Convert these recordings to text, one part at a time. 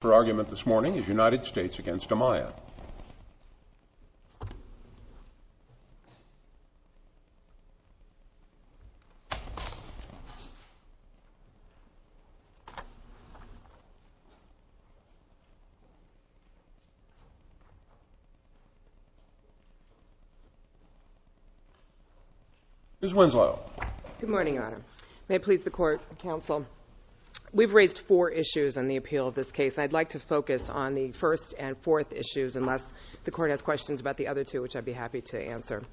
The argument this morning is United States v. Amaya Ms. Winslow Good morning, Your Honor. May it please the Court and Counsel, We've raised four issues on the appeal of this case, and I'd like to focus on the first and fourth issues, unless the Court has questions about the other two, which I'd be happy to answer.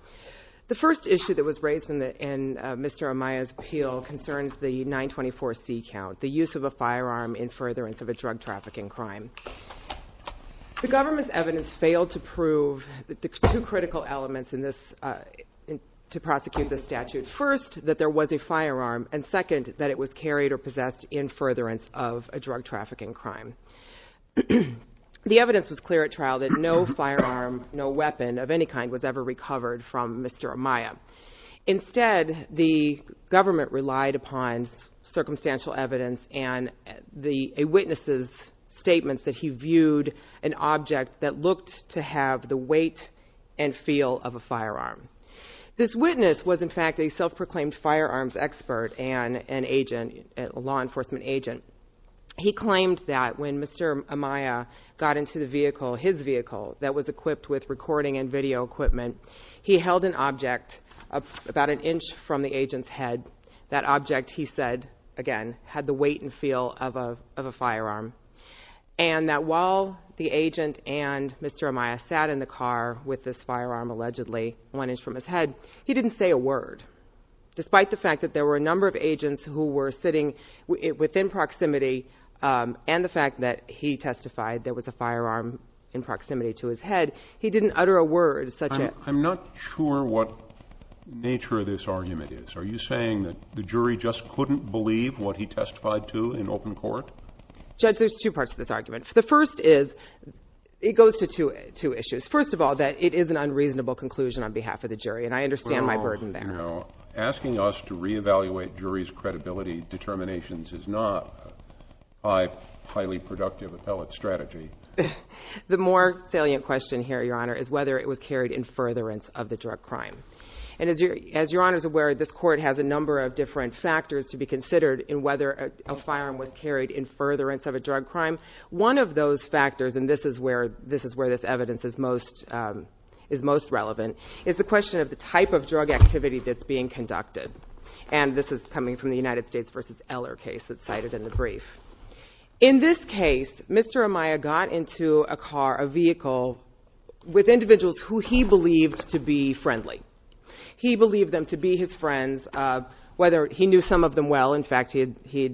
The first issue that was raised in Mr. Amaya's appeal concerns the 924C count, the use of a firearm in furtherance of a drug trafficking crime. The government's evidence failed to prove the two critical elements to prosecute this statute. First, that there was a firearm, and second, that it was carried or possessed in furtherance of a drug trafficking crime. The evidence was clear at trial that no firearm, no weapon of any kind, was ever recovered from Mr. Amaya. Instead, the government relied upon circumstantial evidence and a witness's statements that he viewed an object that looked to have the weight and feel of a firearm. This witness was, in fact, a self-proclaimed firearms expert and an agent, a law enforcement agent. He claimed that when Mr. Amaya got into the vehicle, his vehicle, that was equipped with recording and video equipment, he held an object about an inch from the agent's head, that object, he said, again, had the weight and feel of a firearm, and that while the didn't say a word. Despite the fact that there were a number of agents who were sitting within proximity and the fact that he testified there was a firearm in proximity to his head, he didn't utter a word such as... I'm not sure what nature of this argument is. Are you saying that the jury just couldn't believe what he testified to in open court? Judge, there's two parts to this argument. The first is, it goes to two issues. First of all, that it is an unreasonable conclusion on behalf of the jury, and I understand my burden there. No, no. Asking us to reevaluate jury's credibility determinations is not a highly productive appellate strategy. The more salient question here, Your Honor, is whether it was carried in furtherance of the drug crime. And as Your Honor is aware, this court has a number of different factors to be considered in whether a firearm was carried in furtherance of a drug crime. One of those factors, and this is where this evidence is most relevant, is the question of the type of drug activity that's being conducted. And this is coming from the United States v. Eller case that's cited in the brief. In this case, Mr. Amaya got into a car, a vehicle, with individuals who he believed to be friendly. He believed them to be his friends, whether he knew some of them well, in fact, he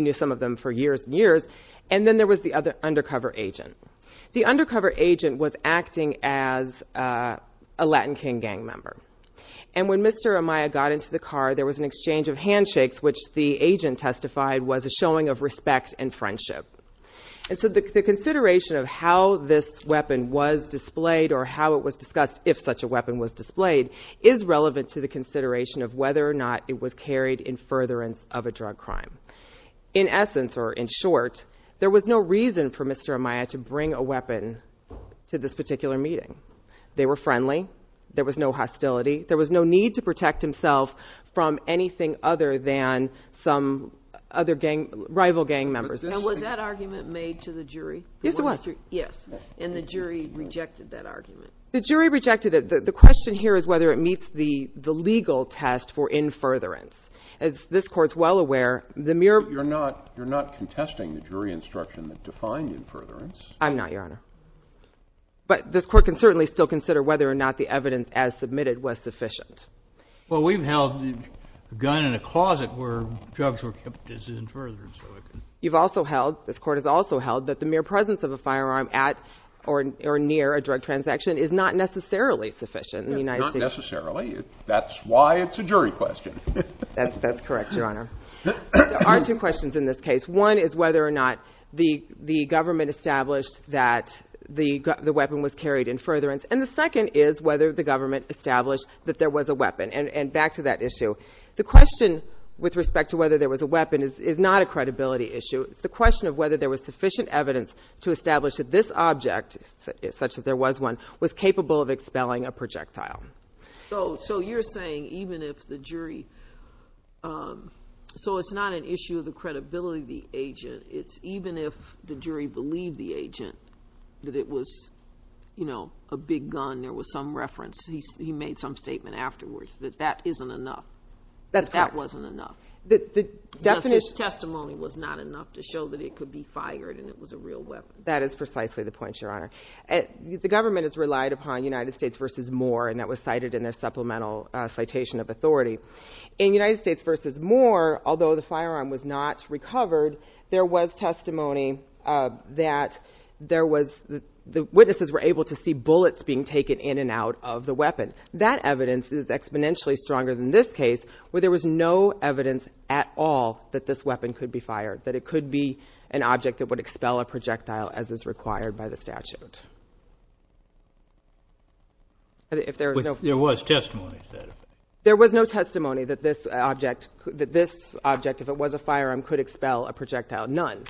knew some of them for years and years. And then there was the undercover agent. The undercover agent was acting as a Latin King Gang member. And when Mr. Amaya got into the car, there was an exchange of handshakes, which the agent testified was a showing of respect and friendship. And so the consideration of how this weapon was displayed, or how it was discussed if such a weapon was displayed, is relevant to the consideration of whether or not it was of a drug crime. In essence, or in short, there was no reason for Mr. Amaya to bring a weapon to this particular meeting. They were friendly. There was no hostility. There was no need to protect himself from anything other than some other gang, rival gang members. Now, was that argument made to the jury? Yes, it was. Yes. And the jury rejected that argument? The jury rejected it. The question here is whether it meets the legal test for in furtherance. As this Court's well aware, the mere... But you're not contesting the jury instruction that defined in furtherance. I'm not, Your Honor. But this Court can certainly still consider whether or not the evidence as submitted was sufficient. Well, we've held the gun in a closet where drugs were kept as in furtherance. You've also held, this Court has also held, that the mere presence of a firearm at or near a drug transaction is not necessarily sufficient in the United States. Not necessarily. That's why it's a jury question. That's correct, Your Honor. There are two questions in this case. One is whether or not the government established that the weapon was carried in furtherance. And the second is whether the government established that there was a weapon. And back to that issue. The question with respect to whether there was a weapon is not a credibility issue. It's the question of whether there was sufficient evidence to establish that this object, such as if there was one, was capable of expelling a projectile. So you're saying even if the jury... So it's not an issue of the credibility of the agent. It's even if the jury believed the agent that it was, you know, a big gun, there was some reference, he made some statement afterwards, that that isn't enough. That's correct. That that wasn't enough. The definition... Justice's testimony was not enough to show that it could be fired and it was a real weapon. That is precisely the point, Your Honor. The government has relied upon United States versus Moore, and that was cited in their supplemental citation of authority. In United States versus Moore, although the firearm was not recovered, there was testimony that there was, the witnesses were able to see bullets being taken in and out of the weapon. That evidence is exponentially stronger than this case, where there was no evidence at all that this weapon could be fired, that it could be an object that would expel a projectile as is required by the statute. If there was no... There was testimony that... There was no testimony that this object, that this object, if it was a firearm, could expel a projectile, none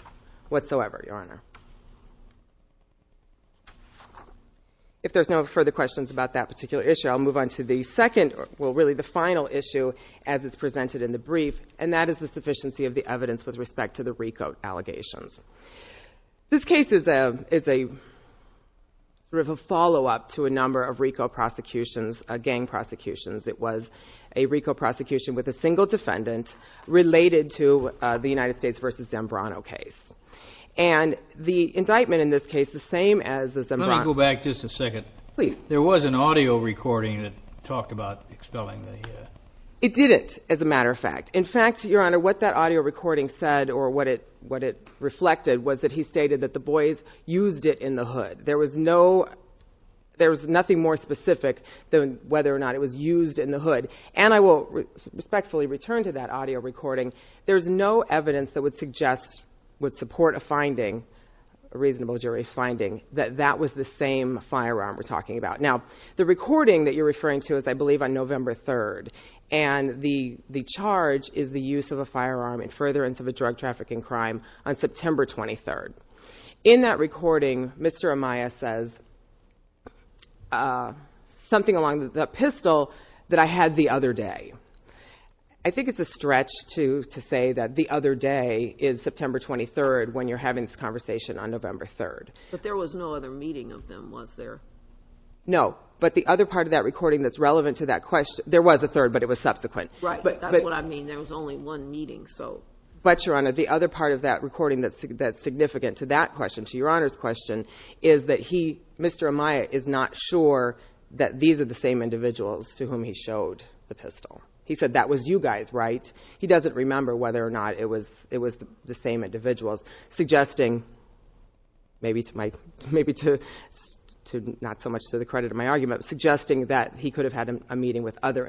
whatsoever, Your Honor. If there's no further questions about that particular issue, I'll move on to the second, well, really the final issue as it's presented in the brief, and that is the sufficiency of the evidence with respect to the recode allegations. This case is a sort of a follow-up to a number of recode prosecutions, gang prosecutions. It was a recode prosecution with a single defendant related to the United States versus Zambrano case. And the indictment in this case, the same as the Zambrano... Let me go back just a second. Please. There was an audio recording that talked about expelling the... It didn't, as a matter of fact. In fact, Your Honor, what that audio recording said or what it reflected was that he stated that the boys used it in the hood. There was no... There's nothing more specific than whether or not it was used in the hood. And I will respectfully return to that audio recording. There's no evidence that would suggest, would support a finding, a reasonable jury finding, that that was the same firearm we're talking about. Now, the recording that you're referring to is, I believe, on November 3rd, and the charge is the use of a firearm in furtherance of a drug trafficking crime on September 23rd. In that recording, Mr. Amaya says something along the pistol that I had the other day. I think it's a stretch to say that the other day is September 23rd when you're having this conversation on November 3rd. But there was no other meeting of them, was there? No. But the other part of that recording that's relevant to that question... There was a third, but it was subsequent. Right. That's what I mean. And there was only one meeting, so... But, Your Honor, the other part of that recording that's significant to that question, to Your Honor's question, is that he, Mr. Amaya, is not sure that these are the same individuals to whom he showed the pistol. He said, that was you guys, right? He doesn't remember whether or not it was the same individuals, suggesting, maybe not so much to the credit of my argument, suggesting that he could have had a meeting with other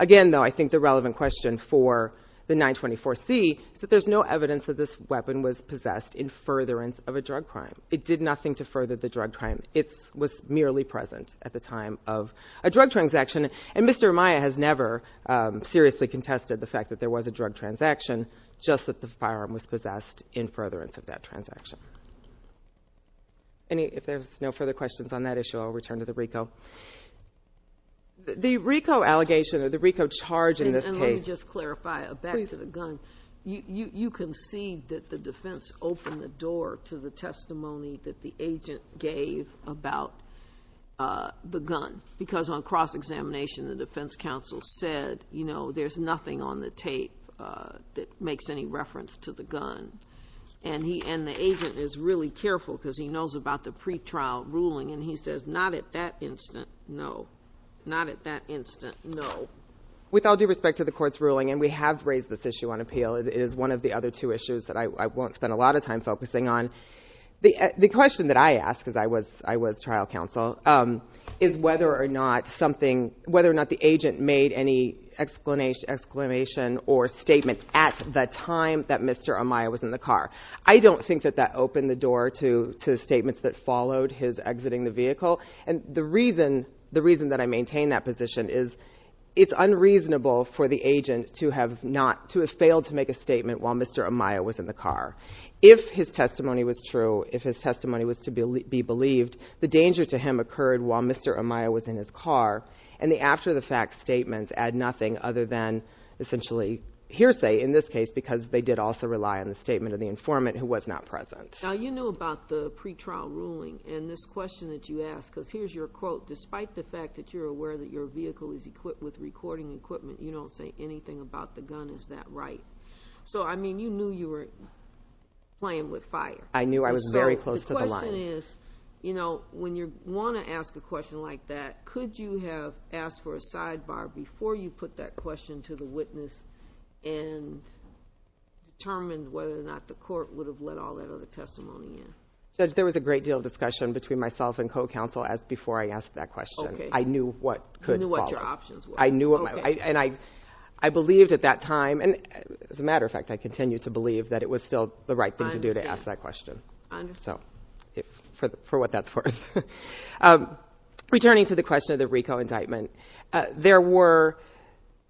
Again, though, I think the relevant question for the 924C is that there's no evidence that this weapon was possessed in furtherance of a drug crime. It did nothing to further the drug crime. It was merely present at the time of a drug transaction. And Mr. Amaya has never seriously contested the fact that there was a drug transaction, just that the firearm was possessed in furtherance of that transaction. If there's no further questions on that issue, I'll return to the RICO. The RICO allegation, or the RICO charge in this case... And let me just clarify, back to the gun. You concede that the defense opened the door to the testimony that the agent gave about the gun, because on cross-examination, the defense counsel said, you know, there's nothing on the tape that makes any reference to the gun. And the agent is really careful, because he knows about the pretrial ruling, and he says, not at that instant, no. Not at that instant, no. With all due respect to the court's ruling, and we have raised this issue on appeal, it is one of the other two issues that I won't spend a lot of time focusing on. The question that I ask, because I was trial counsel, is whether or not the agent made any exclamation or statement at the time that Mr. Amaya was in the car. I don't think that that opened the door to statements that followed his exiting the vehicle. And the reason that I maintain that position is, it's unreasonable for the agent to have not... to have failed to make a statement while Mr. Amaya was in the car. If his testimony was true, if his testimony was to be believed, the danger to him occurred while Mr. Amaya was in his car, and the after-the-fact statements add nothing other than essentially hearsay, in this case, because they did also rely on the statement of the informant who was not present. Now, you know about the pretrial ruling, and this question that you ask, because here's your quote, despite the fact that you're aware that your vehicle is equipped with recording equipment, you don't say anything about the gun, is that right? So, I mean, you knew you were playing with fire. I knew I was very close to the line. So, the question is, you know, when you want to ask a question like that, could you have asked for a sidebar before you put that question to the witness and determined whether or not the court would have let all that other testimony in? Judge, there was a great deal of discussion between myself and co-counsel as before I asked that question. Okay. I knew what could... You knew what your options were. I knew... Okay. And I believed at that time, and as a matter of fact, I continue to believe that it was still the right thing to do... I understand.... to ask that question. I understand. So, for what that's worth. Returning to the question of the RICO indictment. There were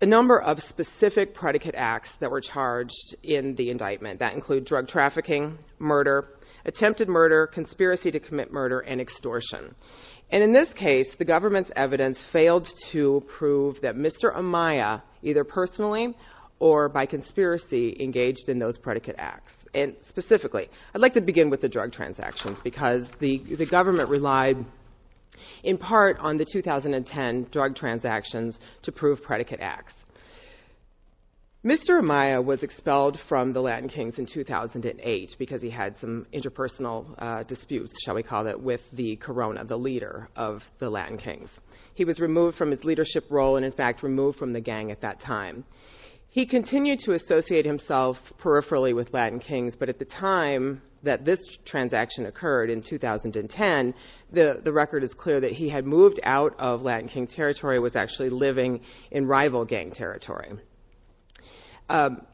a number of specific predicate acts that were charged in the indictment. That includes drug trafficking, murder, attempted murder, conspiracy to commit murder, and extortion. And in this case, the government's evidence failed to prove that Mr. Amaya, either personally or by conspiracy, engaged in those predicate acts. I'd like to begin with the drug transactions because the government relied in part on the 2010 drug transactions to prove predicate acts. Mr. Amaya was expelled from the Latin Kings in 2008 because he had some interpersonal disputes, shall we call it, with the Corona, the leader of the Latin Kings. He was removed from his leadership role and, in fact, removed from the gang at that time. He continued to associate himself peripherally with Latin Kings, but at the time that this transaction occurred in 2010, the record is clear that he had moved out of Latin King territory and was actually living in rival gang territory.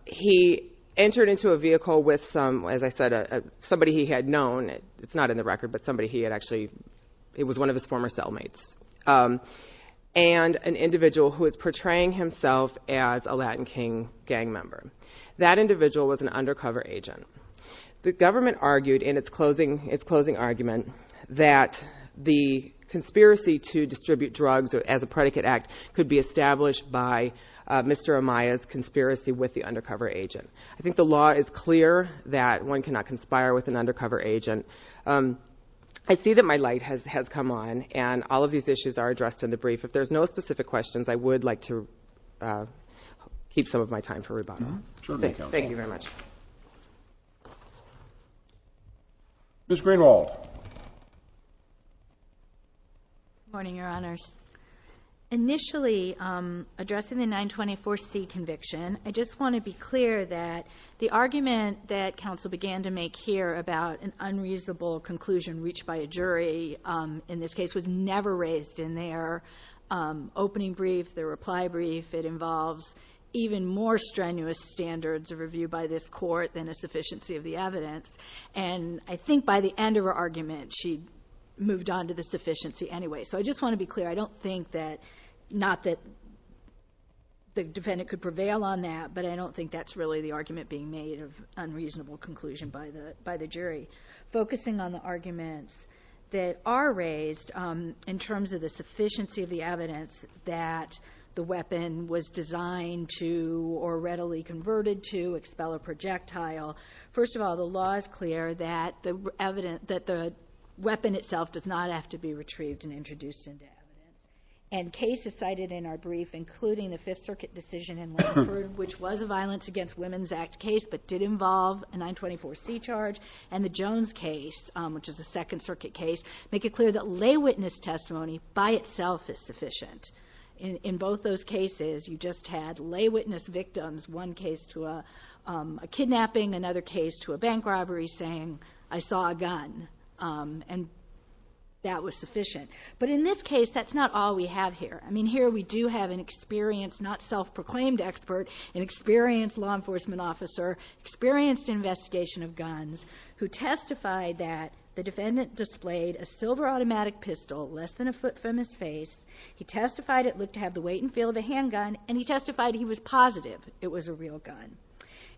He entered into a vehicle with, as I said, somebody he had known. It's not in the record, but somebody he had actually... it was one of his former cellmates. And an individual who was portraying himself as a Latin King gang member. That individual was an undercover agent. The government argued in its closing argument that the conspiracy to distribute drugs as a predicate act could be established by Mr. Amaya's conspiracy with the undercover agent. I think the law is clear that one cannot conspire with an undercover agent. I see that my light has come on and all of these issues are addressed in the brief. If there's no specific questions, I would like to keep some of my time for rebuttal. Thank you very much. Ms. Greenwald. Good morning, Your Honors. Initially, addressing the 924C conviction, I just want to be clear that the argument that an unreasonable conclusion reached by a jury in this case was never raised in their opening brief, their reply brief. It involves even more strenuous standards of review by this Court than a sufficiency of the evidence. And I think by the end of her argument, she'd moved on to the sufficiency anyway. So I just want to be clear. I don't think that... not that the defendant could prevail on that, but I don't think that's really the argument being made of unreasonable conclusion by the jury. Focusing on the arguments that are raised in terms of the sufficiency of the evidence that the weapon was designed to or readily converted to expel a projectile, first of all, the law is clear that the weapon itself does not have to be retrieved and introduced in death. And cases cited in our brief, including the Fifth Circuit decision in Longford, which was a Violence Against Women's Act case but did involve a 924C charge, and the Jones case, which is a Second Circuit case, make it clear that lay witness testimony by itself is sufficient. In both those cases, you just had lay witness victims, one case to a kidnapping, another case to a bank robbery, saying, I saw a gun. And that was sufficient. But in this case, that's not all we have here. I mean, here we do have an experienced, not self-proclaimed expert, an experienced law enforcement officer, experienced investigation of guns, who testified that the defendant displayed a silver automatic pistol less than a foot from his face. He testified it looked to have the weight and feel of a handgun, and he testified he was positive it was a real gun.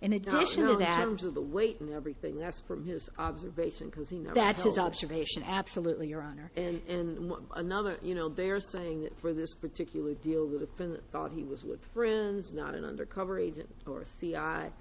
In addition to that... Now, in terms of the weight and everything, that's from his observation because he never held it. That's his observation. Absolutely, Your Honor. And another, you know, they're saying that for this particular deal, the defendant thought he was with friends, not an undercover agent or a CI,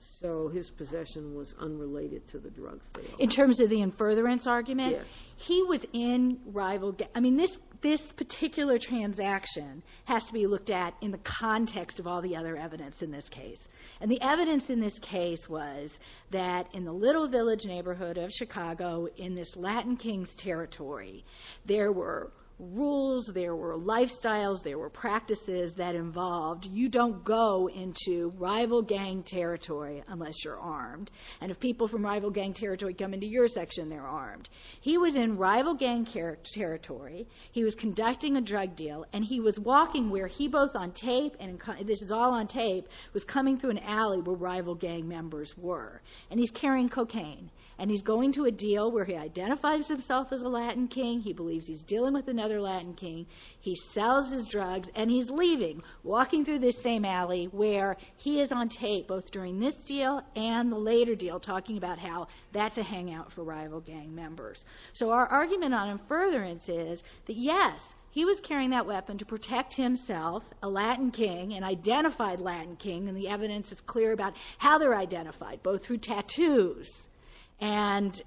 so his possession was unrelated to the drug sale. In terms of the in furtherance argument? Yes. He was in rival... I mean, this particular transaction has to be looked at in the context of all the other evidence in this case. And the evidence in this case was that in the little village neighborhood of Chicago, in this Latin Kings territory, there were rules, there were lifestyles, there were practices that involved you don't go into rival gang territory unless you're armed. And if people from rival gang territory come into your section, they're armed. He was in rival gang territory, he was conducting a drug deal, and he was walking where he both on tape, and this is all on tape, was coming through an alley where rival gang members were. And he's carrying cocaine. And he's going to a deal where he identifies himself as a Latin King, he believes he's dealing with another Latin King, he sells his drugs, and he's leaving, walking through this same alley where he is on tape both during this deal and the later deal talking about how that's a hangout for rival gang members. So our argument on in furtherance is that, yes, he was carrying that weapon to protect himself, a Latin King, an identified Latin King, and the evidence is clear about how they're identified, both through tattoos and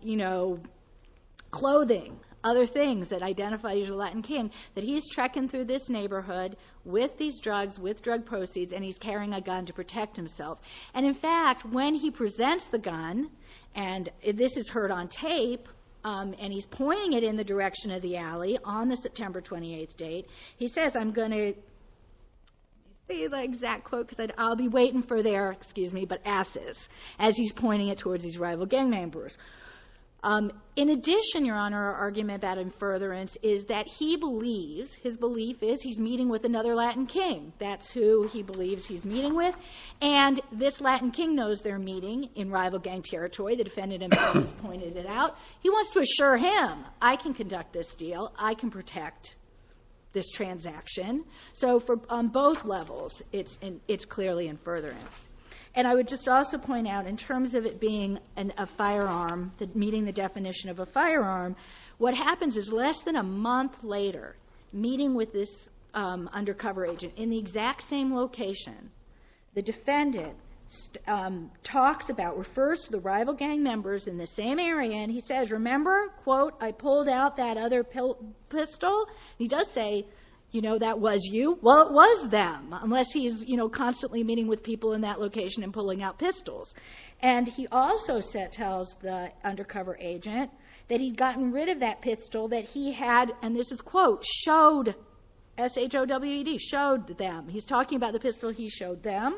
clothing, other things that identify you as a Latin King, that he's trekking through this neighborhood with these drugs, with drug proceeds, and he's carrying a gun to protect himself. And, in fact, when he presents the gun, and this is heard on tape, and he's pointing it in the direction of the alley on the September 28th date, he says, I'm going to say the exact quote because I'll be waiting for their asses as he's pointing it towards these rival gang members. In addition, Your Honor, our argument about in furtherance is that he believes, his belief is he's meeting with another Latin King. That's who he believes he's meeting with. And this Latin King knows they're meeting in rival gang territory. The defendant himself has pointed it out. He wants to assure him, I can conduct this deal. I can protect this transaction. So, on both levels, it's clearly in furtherance. And I would just also point out, in terms of it being a firearm, meeting the definition of a firearm, what happens is less than a month later, meeting with this undercover agent, in the exact same location, the defendant talks about, refers to the rival gang members in the same area, and he says, remember, quote, I pulled out that other pistol. He does say, you know, that was you. Well, it was them, unless he's constantly meeting with people in that location and pulling out pistols. And he also tells the undercover agent that he'd gotten rid of that pistol that he had, and this is quote, showed, S-H-O-W-E-D, showed them. He's talking about the pistol he showed them,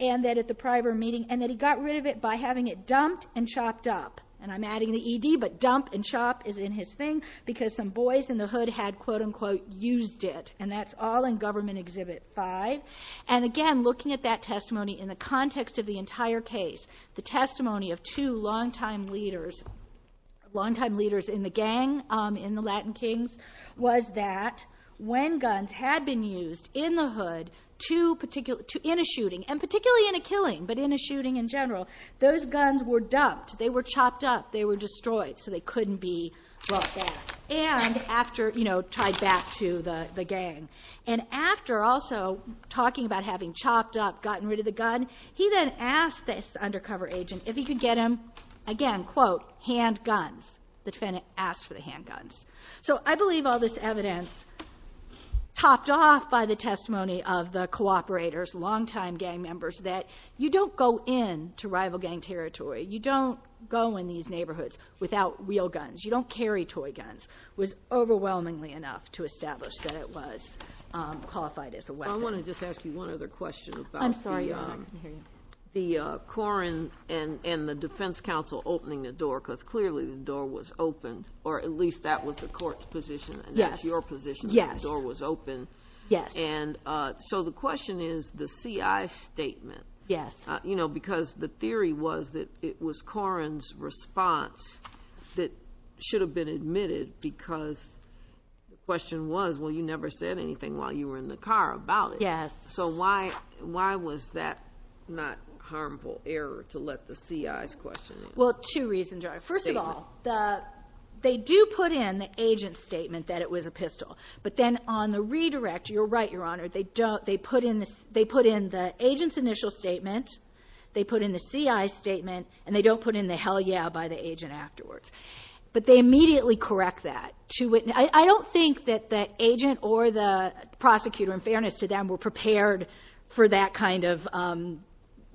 and that at the prior meeting, and that he got rid of it by having it dumped and chopped up. And I'm adding the E-D, but dump and chop is in his thing, because some boys in the hood had, quote, unquote, used it. And that's all in Government Exhibit 5. And, again, looking at that testimony in the context of the entire case, the testimony of two longtime leaders, longtime leaders in the gang in the Latin Kings, was that when guns had been used in the hood in a shooting, and particularly in a killing, but in a shooting in general, those guns were dumped. They were chopped up. They were destroyed, so they couldn't be brought back and tied back to the gang. And after also talking about having chopped up, gotten rid of the gun, he then asked this undercover agent if he could get him, again, quote, handguns. The defendant asked for the handguns. So I believe all this evidence topped off by the testimony of the cooperators, longtime gang members, that you don't go in to rival gang territory. You don't go in these neighborhoods without real guns. You don't carry toy guns. It was overwhelmingly enough to establish that it was qualified as a weapon. I want to just ask you one other question about the Corrin and the defense counsel opening the door, because clearly the door was open, or at least that was the court's position. I know it's your position that the door was open. Yes. And so the question is the CI statement. Yes. You know, because the theory was that it was Corrin's response that should have been admitted because the question was, well, you never said anything while you were in the car about it. Yes. So why was that not a harmful error to let the CI's question in? Well, two reasons. First of all, they do put in the agent's statement that it was a pistol. But then on the redirect, you're right, Your Honor, they put in the agent's initial statement, they put in the CI's statement, and they don't put in the hell yeah by the agent afterwards. But they immediately correct that. I don't think that the agent or the prosecutor, in fairness to them, were prepared for that kind of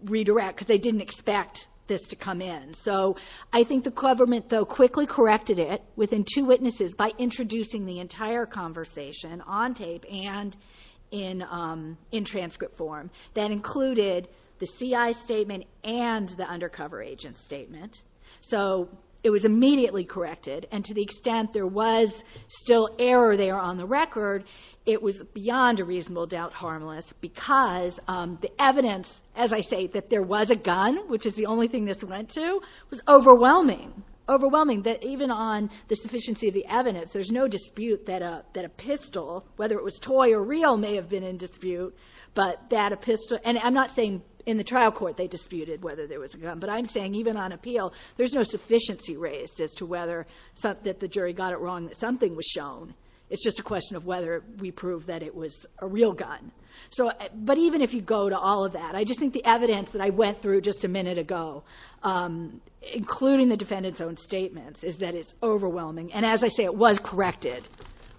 redirect because they didn't expect this to come in. So I think the government, though, quickly corrected it within two witnesses by introducing the entire conversation on tape and in transcript form that included the CI's statement and the undercover agent's statement. So it was immediately corrected, and to the extent there was still error there on the record, it was beyond a reasonable doubt harmless because the evidence, as I say, that there was a gun, which is the only thing this went to, was overwhelming. Overwhelming that even on the sufficiency of the evidence, there's no dispute that a pistol, whether it was toy or real, may have been in dispute. And I'm not saying in the trial court they disputed whether there was a gun, but I'm saying even on appeal there's no sufficiency raised as to whether the jury got it wrong that something was shown. It's just a question of whether we proved that it was a real gun. But even if you go to all of that, I just think the evidence that I went through just a minute ago, including the defendant's own statements, is that it's overwhelming. And as I say, it was corrected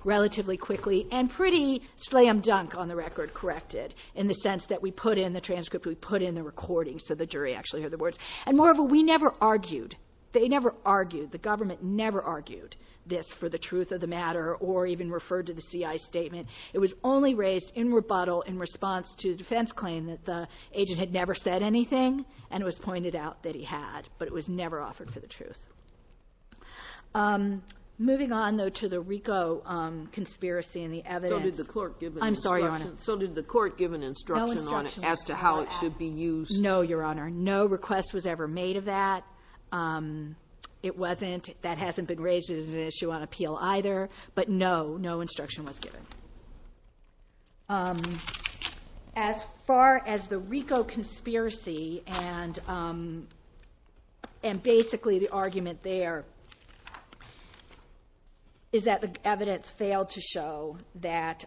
relatively quickly and pretty slam-dunk on the record corrected in the sense that we put in the transcript, we put in the recording so the jury actually heard the words. And moreover, we never argued, they never argued, the government never argued this for the truth of the matter or even referred to the CI's statement. It was only raised in rebuttal in response to the defense claim that the agent had never said anything, and it was pointed out that he had, but it was never offered for the truth. Moving on, though, to the RICO conspiracy and the evidence. So did the court give an instruction on it as to how it should be used? No, Your Honor, no request was ever made of that. It wasn't, that hasn't been raised as an issue on appeal either, but no, no instruction was given. As far as the RICO conspiracy, and basically the argument there is that the evidence failed to show that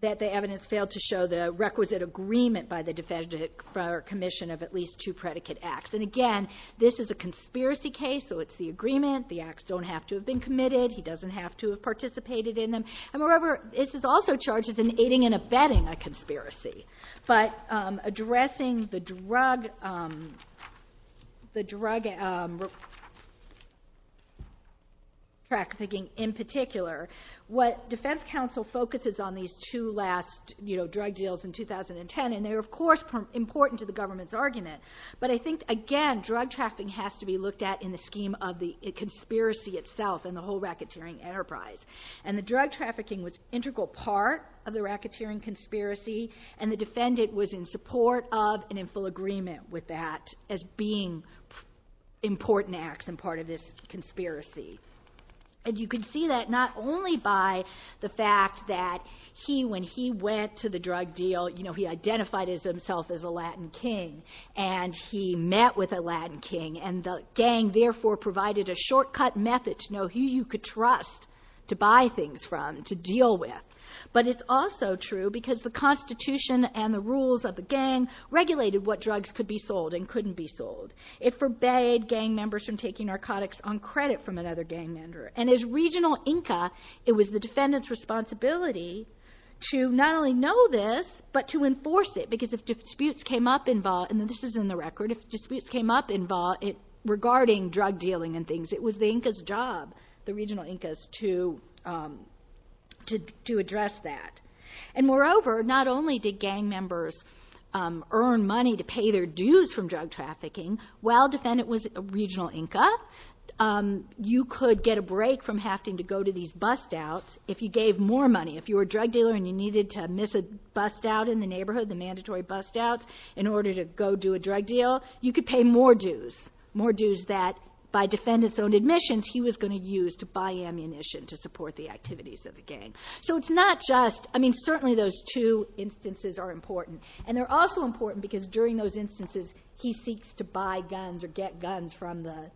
the requisite agreement by the Defender-Commissioner of at least two predicate acts. And again, this is a conspiracy case, so it's the agreement, the acts don't have to have been committed, he doesn't have to have participated in them, and moreover, this is also charges in aiding and abetting a conspiracy. But addressing the drug trafficking in particular, what defense counsel focuses on these two last drug deals in 2010, and they're of course important to the government's argument, but I think again, drug trafficking has to be looked at in the scheme of the conspiracy itself and the whole racketeering enterprise. And the drug trafficking was an integral part of the racketeering conspiracy, and the Defendant was in support of and in full agreement with that as being important acts and part of this conspiracy. And you can see that not only by the fact that he, when he went to the drug deal, you know, he identified himself as a Latin King, and he met with a Latin King, and the gang therefore provided a shortcut method to know who you could trust to buy things from, to deal with. But it's also true because the Constitution and the rules of the gang regulated what drugs could be sold and couldn't be sold. It forbade gang members from taking narcotics on credit from another gang member. And as regional Inca, it was the Defendant's responsibility to not only know this, but to enforce it, because if disputes came up in VAW, and this is in the record, if disputes came up in VAW regarding drug dealing and things, it was the Inca's job, the regional Inca's, to address that. And moreover, not only did gang members earn money to pay their dues from drug trafficking, while Defendant was a regional Inca, you could get a break from having to go to these bust-outs if you gave more money. If you were a drug dealer and you needed to miss a bust-out in the neighborhood, the mandatory bust-outs, in order to go do a drug deal, you could pay more dues, more dues that, by Defendant's own admissions, he was going to use to buy ammunition to support the activities of the gang. So it's not just, I mean, certainly those two instances are important. And they're also important because during those instances, he seeks to buy guns or get guns from the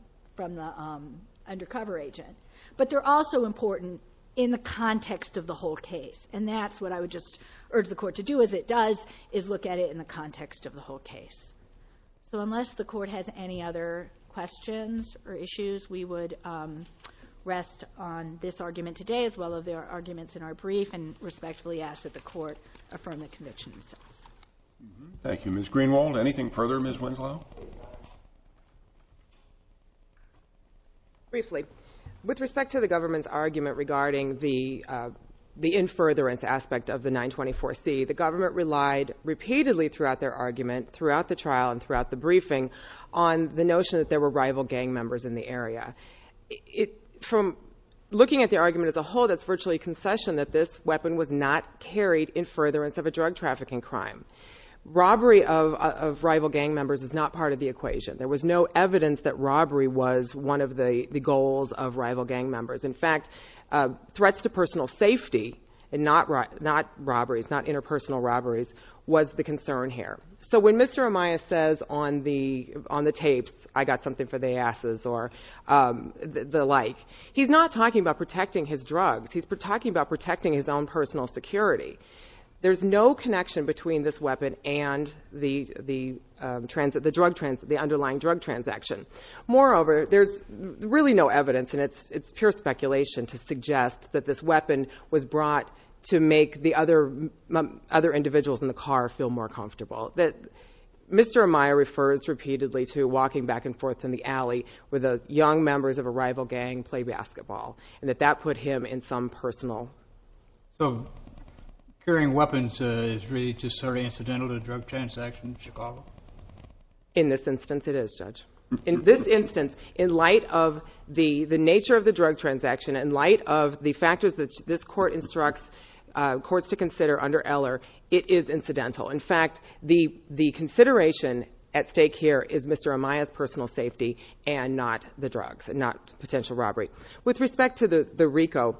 undercover agent. But they're also important in the context of the whole case. And that's what I would just urge the Court to do, as it does, is look at it in the context of the whole case. So unless the Court has any other questions or issues, we would rest on this argument today, as well as the arguments in our brief, and respectfully ask that the Court affirm the conviction itself. Thank you. Ms. Greenwald, anything further? Ms. Winslow? Briefly. With respect to the government's argument regarding the in-furtherance aspect of the 924C, the government relied repeatedly throughout their argument, throughout the trial, and throughout the briefing, on the notion that there were rival gang members in the area. From looking at the argument as a whole, that's virtually a concession that this weapon was not carried in furtherance of a drug trafficking crime. Robbery of rival gang members is not part of the equation. There was no evidence that robbery was one of the goals of rival gang members. In fact, threats to personal safety, and not robberies, not interpersonal robberies, was the concern here. So when Mr. Amaya says on the tapes, I got something for the asses, or the like, he's not talking about protecting his drugs. He's talking about protecting his own personal security. There's no connection between this weapon and the underlying drug transaction. Moreover, there's really no evidence, and it's pure speculation, to suggest that this weapon was brought to make the other individuals in the car feel more comfortable. Mr. Amaya refers repeatedly to walking back and forth in the alley where the young members of a rival gang play basketball, and that that put him in some personal... So carrying weapons is really just sort of incidental to a drug transaction in Chicago? In this instance, it is, Judge. In this instance, in light of the nature of the drug transaction, in light of the factors that this court instructs courts to consider under Eller, it is incidental. In fact, the consideration at stake here is Mr. Amaya's personal safety and not the drugs, and not potential robbery. With respect to the RICO,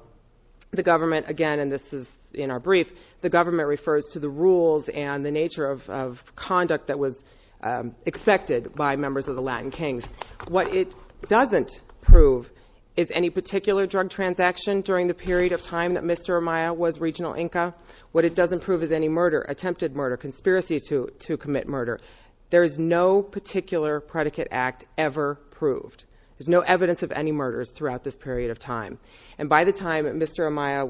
the government, again, and this is in our brief, the government refers to the rules and the nature of conduct that was expected by members of the Latin Kings. What it doesn't prove is any particular drug transaction during the period of time that Mr. Amaya was regional inca. What it doesn't prove is any murder, attempted murder, conspiracy to commit murder. There is no particular predicate act ever proved. There's no evidence of any murders throughout this period of time. And by the time Mr. Amaya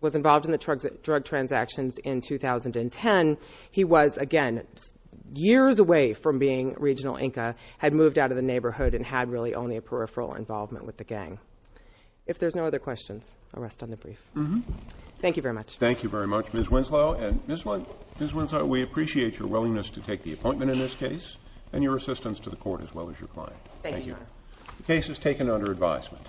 was involved in the drug transactions in 2010, he was, again, years away from being regional inca, had moved out of the neighborhood, and had really only a peripheral involvement with the gang. If there's no other questions, I'll rest on the brief. Thank you very much. Thank you very much, Ms. Winslow. And Ms. Winslow, we appreciate your willingness to take the appointment in this case and your assistance to the court as well as your client. Thank you, Your Honor. The case is taken under advisement.